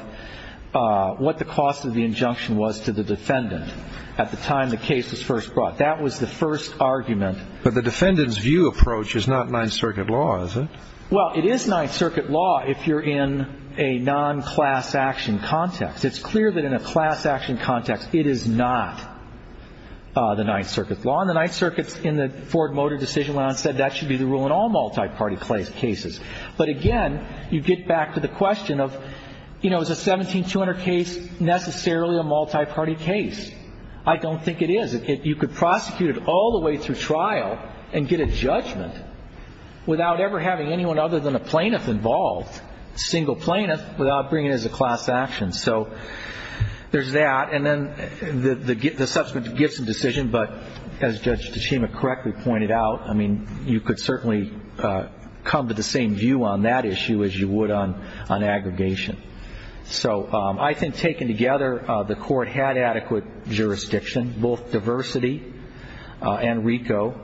what the cost of the injunction was to the defendant at the time the case was first brought. That was the first argument. But the defendant's view approach is not Ninth Circuit law, is it? Well, it is Ninth Circuit law if you're in a non-class action context. It's clear that in a class action context, it is not the Ninth Circuit law. And the Ninth Circuit in the Ford Motor Decision Law said that should be the rule in all multi-party cases. But, again, you get back to the question of, you know, is a 17200 case necessarily a multi-party case? I don't think it is. You could prosecute it all the way through trial and get a judgment without ever having anyone other than a plaintiff involved, a single plaintiff, without bringing it as a class action. So there's that. And then the subsequent gifts and decision. But as Judge Tachima correctly pointed out, I mean, you could certainly come to the same view on that issue as you would on aggregation. So I think taken together, the Court had adequate jurisdiction, both diversity and RICO.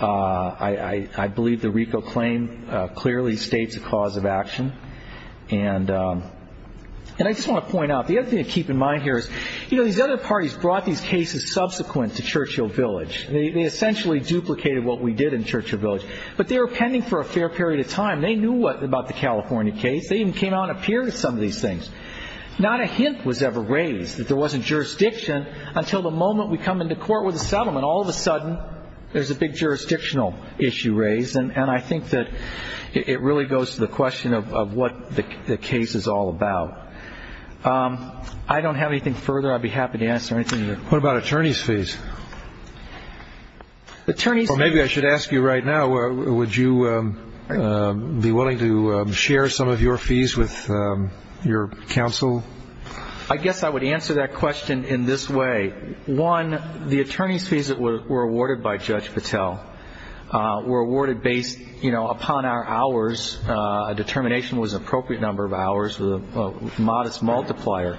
I believe the RICO claim clearly states a cause of action. And I just want to point out, the other thing to keep in mind here is, you know, these other parties brought these cases subsequent to Churchill Village. They essentially duplicated what we did in Churchill Village. But they were pending for a fair period of time. They knew about the California case. They even came out and appeared at some of these things. Not a hint was ever raised that there wasn't jurisdiction until the moment we come into court with a settlement. All of a sudden, there's a big jurisdictional issue raised. And I think that it really goes to the question of what the case is all about. I don't have anything further. I'd be happy to answer anything. What about attorneys' fees? Maybe I should ask you right now, would you be willing to share some of your fees with your counsel? I guess I would answer that question in this way. One, the attorneys' fees that were awarded by Judge Patel were awarded based, you know, upon our hours. A determination was an appropriate number of hours with a modest multiplier.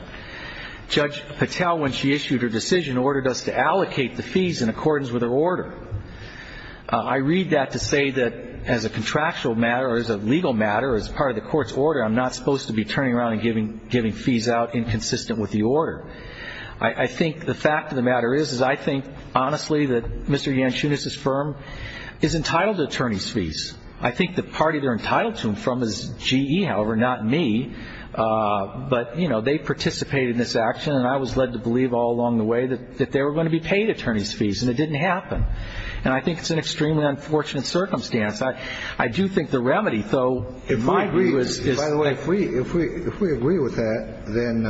Judge Patel, when she issued her decision, ordered us to allocate the fees in accordance with her order. I read that to say that as a contractual matter or as a legal matter or as part of the court's order, I'm not supposed to be turning around and giving fees out inconsistent with the order. I think the fact of the matter is, is I think, honestly, that Mr. Yanchunis's firm is entitled to attorneys' fees. I think the party they're entitled to them from is GE, however, not me. But, you know, they participated in this action, and I was led to believe all along the way that they were going to be paid attorneys' fees, and it didn't happen. And I think it's an extremely unfortunate circumstance. I do think the remedy, though, in my view is- By the way, if we agree with that, then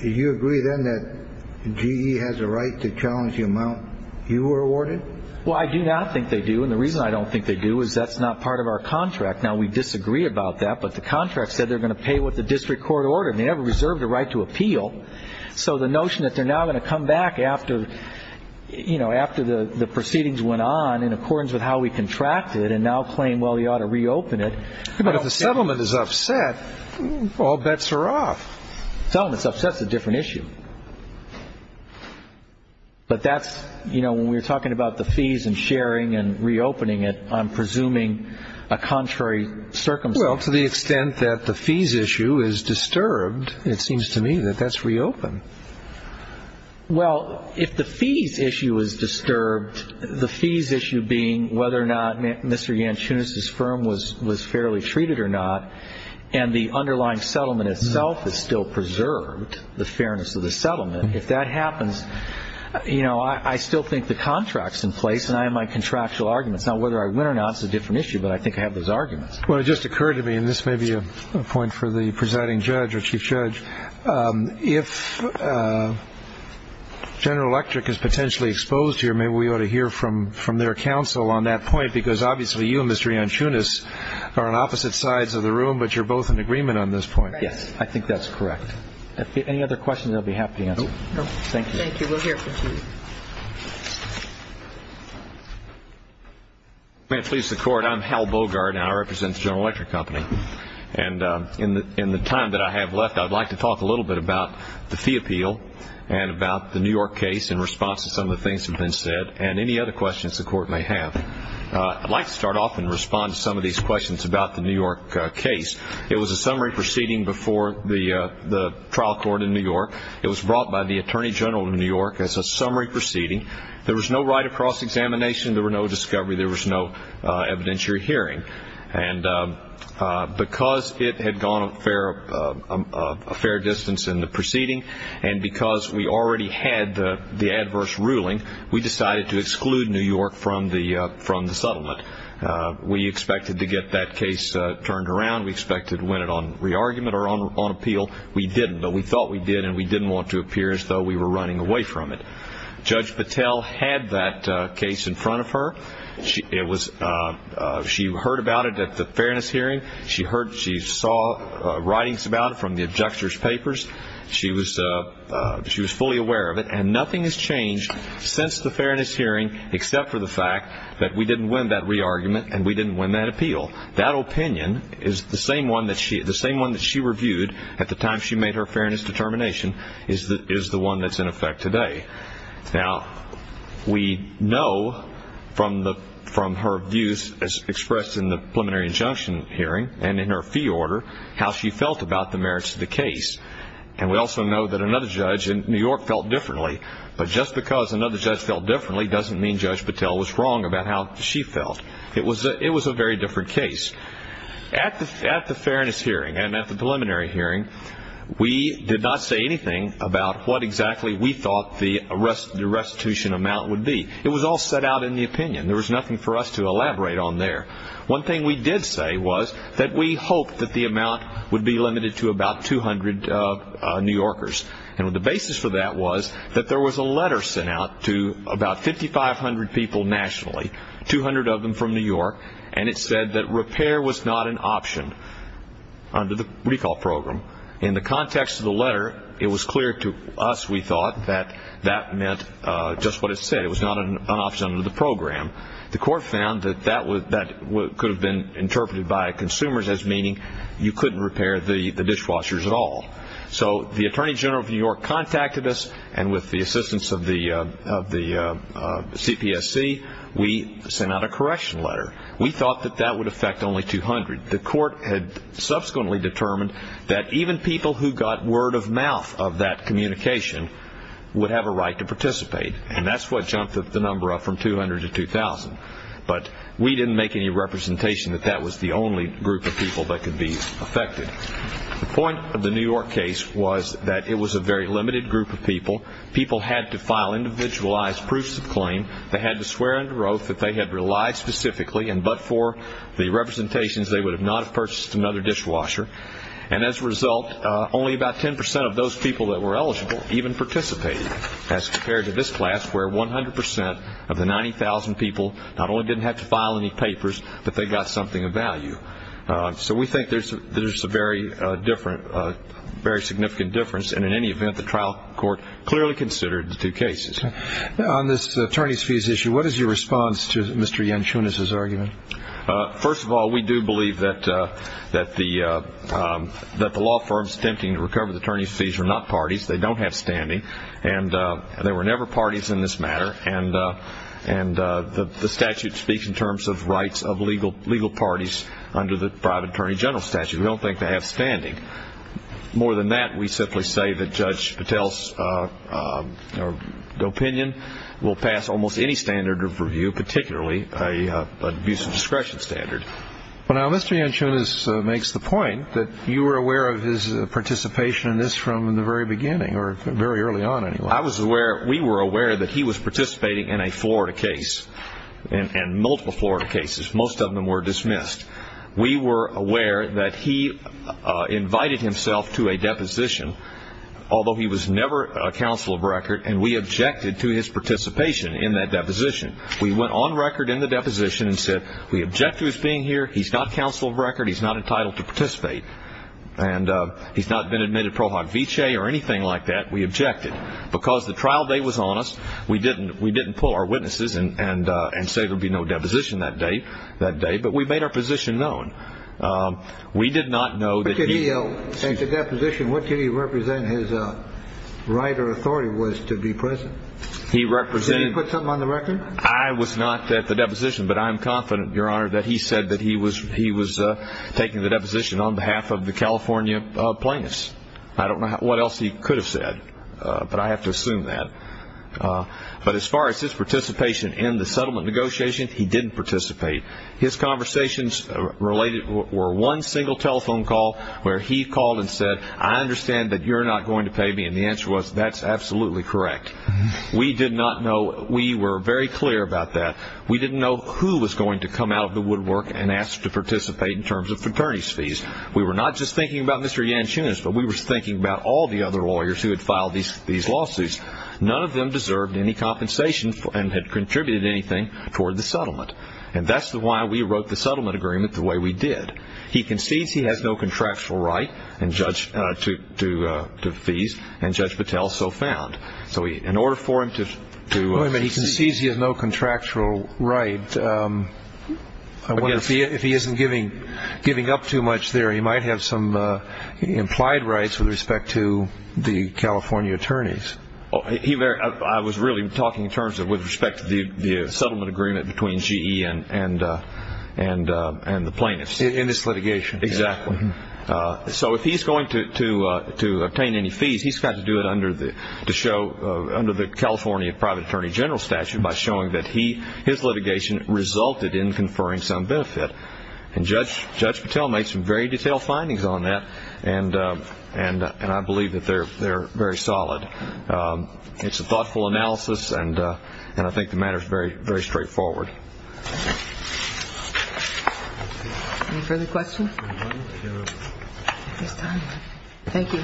do you agree then that GE has a right to challenge the amount you were awarded? Well, I do not think they do, and the reason I don't think they do is that's not part of our contract. Now, we disagree about that, but the contract said they're going to pay what the district court ordered, and they never reserved a right to appeal. So the notion that they're now going to come back after the proceedings went on in accordance with how we contracted and now claim, well, you ought to reopen it- But if the settlement is upset, all bets are off. The settlement's upset is a different issue. But that's, you know, when we're talking about the fees and sharing and reopening it, I'm presuming a contrary circumstance. Well, to the extent that the fees issue is disturbed, it seems to me that that's reopened. Well, if the fees issue is disturbed, the fees issue being whether or not Mr. Yanchunis's firm was fairly treated or not, and the underlying settlement itself is still preserved, the fairness of the settlement, if that happens, you know, I still think the contract's in place, and I have my contractual arguments. Now, whether I win or not is a different issue, but I think I have those arguments. Well, it just occurred to me, and this may be a point for the presiding judge or chief judge, if General Electric is potentially exposed here, maybe we ought to hear from their counsel on that point, because obviously you and Mr. Yanchunis are on opposite sides of the room, but you're both in agreement on this point. Right. Yes, I think that's correct. Any other questions, I'll be happy to answer. No. Thank you. Thank you. We'll hear from Chief. May it please the Court, I'm Hal Bogart, and I represent the General Electric Company. And in the time that I have left, I'd like to talk a little bit about the fee appeal and about the New York case in response to some of the things that have been said, and any other questions the Court may have. I'd like to start off and respond to some of these questions about the New York case. It was a summary proceeding before the trial court in New York. It was brought by the Attorney General of New York as a summary proceeding. There was no right of cross-examination. There were no discovery. There was no evidentiary hearing. And because it had gone a fair distance in the proceeding, and because we already had the adverse ruling, we decided to exclude New York from the settlement. We expected to get that case turned around. We expected to win it on re-argument or on appeal. We didn't, though we thought we did, and we didn't want to appear as though we were running away from it. Judge Patel had that case in front of her. She heard about it at the fairness hearing. She saw writings about it from the objector's papers. She was fully aware of it. And nothing has changed since the fairness hearing except for the fact that we didn't win that re-argument and we didn't win that appeal. That opinion is the same one that she reviewed at the time she made her fairness determination is the one that's in effect today. Now, we know from her views as expressed in the preliminary injunction hearing and in her fee order how she felt about the merits of the case. And we also know that another judge in New York felt differently, but just because another judge felt differently doesn't mean Judge Patel was wrong about how she felt. It was a very different case. At the fairness hearing and at the preliminary hearing, we did not say anything about what exactly we thought the restitution amount would be. It was all set out in the opinion. There was nothing for us to elaborate on there. One thing we did say was that we hoped that the amount would be limited to about 200 New Yorkers. And the basis for that was that there was a letter sent out to about 5,500 people nationally, 200 of them from New York, and it said that repair was not an option under the recall program. In the context of the letter, it was clear to us, we thought, that that meant just what it said. It was not an option under the program. The court found that that could have been interpreted by consumers as meaning you couldn't repair the dishwashers at all. So the Attorney General of New York contacted us, and with the assistance of the CPSC, we sent out a correction letter. We thought that that would affect only 200. The court had subsequently determined that even people who got word of mouth of that communication would have a right to participate. And that's what jumped the number up from 200 to 2,000. But we didn't make any representation that that was the only group of people that could be affected. The point of the New York case was that it was a very limited group of people. People had to file individualized proofs of claim. They had to swear under oath that they had relied specifically and but for the representations, they would not have purchased another dishwasher. And as a result, only about 10% of those people that were eligible even participated as compared to this class where 100% of the 90,000 people not only didn't have to file any papers, but they got something of value. So we think there's a very significant difference. And in any event, the trial court clearly considered the two cases. On this attorney's fees issue, what is your response to Mr. Yanchunas' argument? First of all, we do believe that the law firms attempting to recover the attorney's fees are not parties. They don't have standing. And there were never parties in this matter. And the statute speaks in terms of rights of legal parties under the private attorney general statute. We don't think they have standing. More than that, we simply say that Judge Patel's opinion will pass almost any standard of review, particularly an abuse of discretion standard. Well, now, Mr. Yanchunas makes the point that you were aware of his participation in this from the very beginning or very early on anyway. We were aware that he was participating in a Florida case and multiple Florida cases. Most of them were dismissed. We were aware that he invited himself to a deposition, although he was never a counsel of record, and we objected to his participation in that deposition. We went on record in the deposition and said we object to his being here. He's not counsel of record. He's not entitled to participate. And he's not been admitted pro hoc vicee or anything like that. We objected because the trial date was on us. We didn't pull our witnesses and say there would be no deposition that day, but we made our position known. We did not know that he – In the deposition, what did he represent his right or authority was to be present? Did he put something on the record? I was not at the deposition, but I'm confident, Your Honor, that he said that he was taking the deposition on behalf of the California plaintiffs. I don't know what else he could have said, but I have to assume that. But as far as his participation in the settlement negotiation, he didn't participate. His conversations related were one single telephone call where he called and said, I understand that you're not going to pay me, and the answer was that's absolutely correct. We did not know. We were very clear about that. We didn't know who was going to come out of the woodwork and ask to participate in terms of fraternity's fees. We were not just thinking about Mr. Yanchunas, but we were thinking about all the other lawyers who had filed these lawsuits. None of them deserved any compensation and had contributed anything toward the settlement. And that's why we wrote the settlement agreement the way we did. And he concedes he has no contractual right to fees, and Judge Patel so found. So in order for him to see he has no contractual right, if he isn't giving up too much there, he might have some implied rights with respect to the California attorneys. I was really talking in terms of with respect to the settlement agreement between GE and the plaintiffs. In this litigation. Exactly. So if he's going to obtain any fees, he's got to do it under the California private attorney general statute by showing that his litigation resulted in conferring some benefit. And Judge Patel made some very detailed findings on that, and I believe that they're very solid. It's a thoughtful analysis, and I think the matter is very straightforward. Any further questions? Thank you.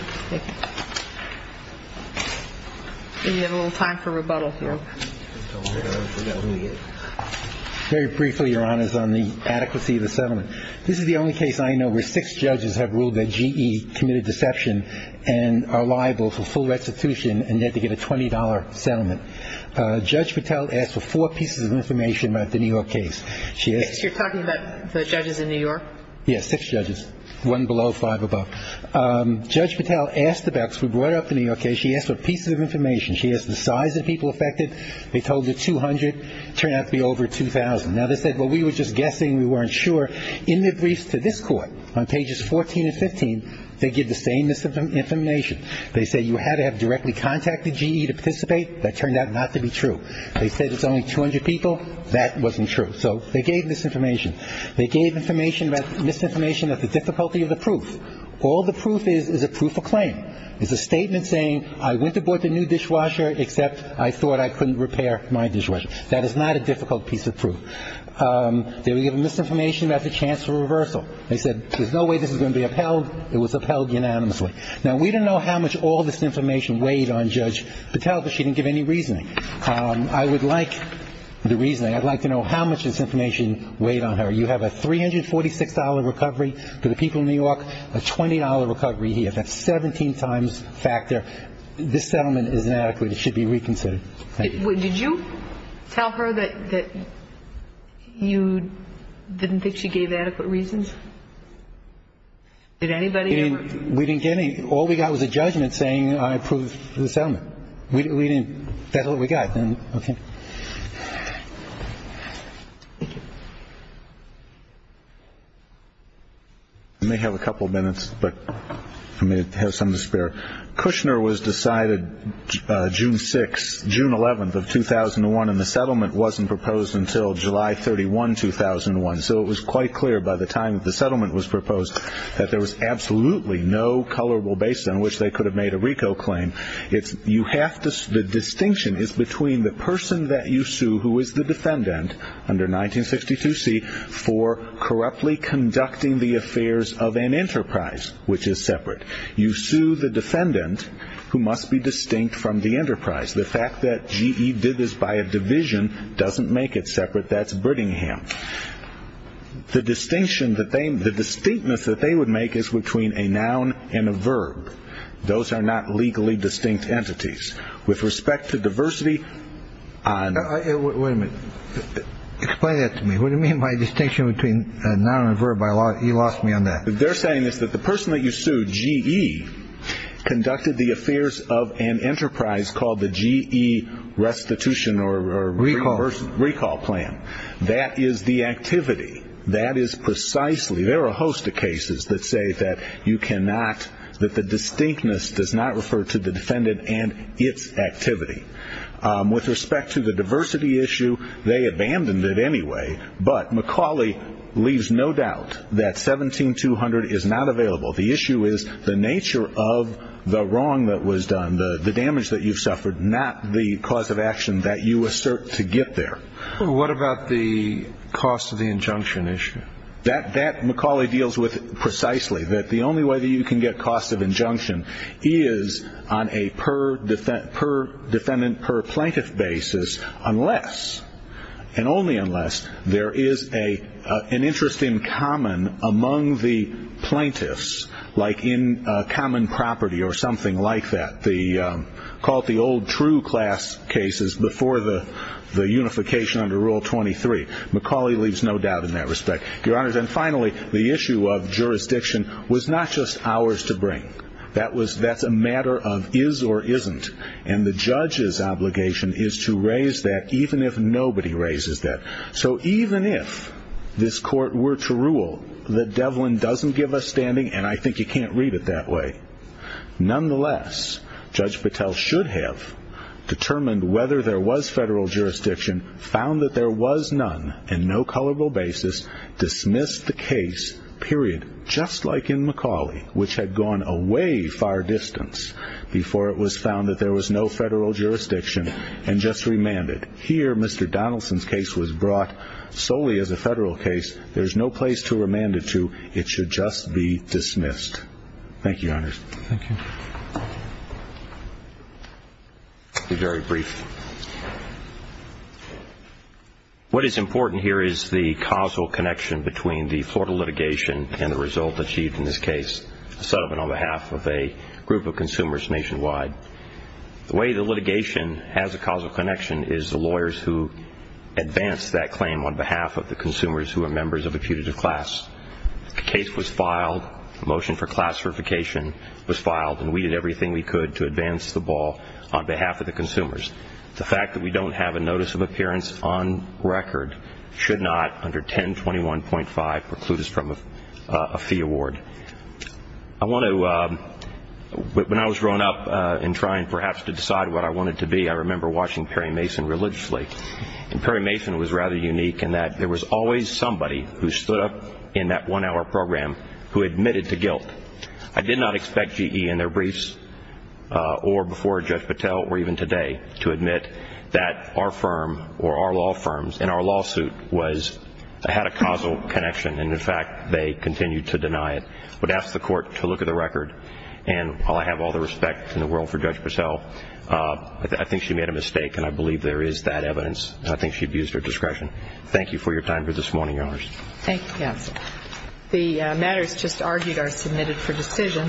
We have a little time for rebuttal here. Very briefly, Your Honors, on the adequacy of the settlement. This is the only case I know where six judges have ruled that GE committed deception and are liable for full restitution and yet to get a $20 settlement. Judge Patel asked for four pieces of information about the New York case. You're talking about the judges in New York? Yes, six judges. One below, five above. Judge Patel asked about this. We brought up the New York case. She asked for pieces of information. She asked the size of people affected. They told her 200. Turned out to be over 2,000. Now they said, well, we were just guessing. We weren't sure. In their briefs to this Court, on pages 14 and 15, they give the same misinformation. They say you had to have directly contacted GE to participate. That turned out not to be true. They said it's only 200 people. That wasn't true. So they gave misinformation. They gave misinformation about the difficulty of the proof. All the proof is is a proof of claim. It's a statement saying I went to board the new dishwasher except I thought I couldn't repair my dishwasher. That is not a difficult piece of proof. They were giving misinformation about the chance for reversal. They said there's no way this is going to be upheld. It was upheld unanimously. Now, we don't know how much all this information weighed on Judge Patel, but she didn't give any reasoning. I would like the reasoning. I'd like to know how much this information weighed on her. You have a $346 recovery for the people of New York, a $20 recovery here. That's 17 times factor. This settlement is inadequate. It should be reconsidered. Thank you. Did you tell her that you didn't think she gave adequate reasons? Did anybody? We didn't get any. All we got was a judgment saying I approve the settlement. We didn't. That's all we got. Okay. I may have a couple minutes, but I may have some to spare. Kushner was decided June 6th, June 11th of 2001, and the settlement wasn't proposed until July 31, 2001. So it was quite clear by the time that the settlement was proposed that there was absolutely no colorable basis on which they could have made a RICO claim. The distinction is between the person that you sue who is the defendant under 1962C for corruptly conducting the affairs of an enterprise, which is separate. You sue the defendant who must be distinct from the enterprise. The fact that GE did this by a division doesn't make it separate. That's Brittingham. The distinction that they – the distinctness that they would make is between a noun and a verb. Those are not legally distinct entities. With respect to diversity on – Wait a minute. Explain that to me. What do you mean by distinction between a noun and a verb? You lost me on that. What they're saying is that the person that you sue, GE, conducted the affairs of an enterprise called the GE restitution or RICO plan. That is the activity. That is precisely – there are a host of cases that say that you cannot – that the distinctness does not refer to the defendant and its activity. With respect to the diversity issue, they abandoned it anyway. But McCauley leaves no doubt that 17200 is not available. The issue is the nature of the wrong that was done, the damage that you've suffered, not the cause of action that you assert to get there. What about the cost of the injunction issue? That McCauley deals with precisely, that the only way that you can get cost of injunction is on a per-defendant, per-plaintiff basis unless, and only unless, there is an interest in common among the plaintiffs, like in common property or something like that. Call it the old true class cases before the unification under Rule 23. McCauley leaves no doubt in that respect. Your Honors, and finally, the issue of jurisdiction was not just ours to bring. That's a matter of is or isn't. And the judge's obligation is to raise that even if nobody raises that. So even if this court were to rule that Devlin doesn't give us standing, and I think you can't read it that way, nonetheless, Judge Patel should have determined whether there was federal jurisdiction, found that there was none, and no colorable basis, dismissed the case, period, just like in McCauley, which had gone a way far distance before it was found that there was no federal jurisdiction, and just remanded. Here, Mr. Donaldson's case was brought solely as a federal case. There's no place to remand it to. It should just be dismissed. Thank you, Your Honors. Thank you. I'll be very brief. What is important here is the causal connection between the Florida litigation and the result achieved in this case, a settlement on behalf of a group of consumers nationwide. The way the litigation has a causal connection is the lawyers who advance that claim on behalf of the consumers who are members of a putative class. The case was filed, the motion for class certification was filed, and we did everything we could to advance the ball on behalf of the consumers. The fact that we don't have a notice of appearance on record should not, under 1021.5, preclude us from a fee award. When I was growing up and trying perhaps to decide what I wanted to be, I remember watching Perry Mason religiously, and Perry Mason was rather unique in that there was always somebody who stood up in that one-hour program who admitted to guilt. I did not expect GE in their briefs or before Judge Patel or even today to admit that our firm or our law firms in our lawsuit had a causal connection, and, in fact, they continued to deny it. I would ask the Court to look at the record, and while I have all the respect in the world for Judge Patel, I think she made a mistake, and I believe there is that evidence, and I think she abused her discretion. Thank you for your time for this morning, Your Honors. Thank you, Counsel. The matters just argued are submitted for decision.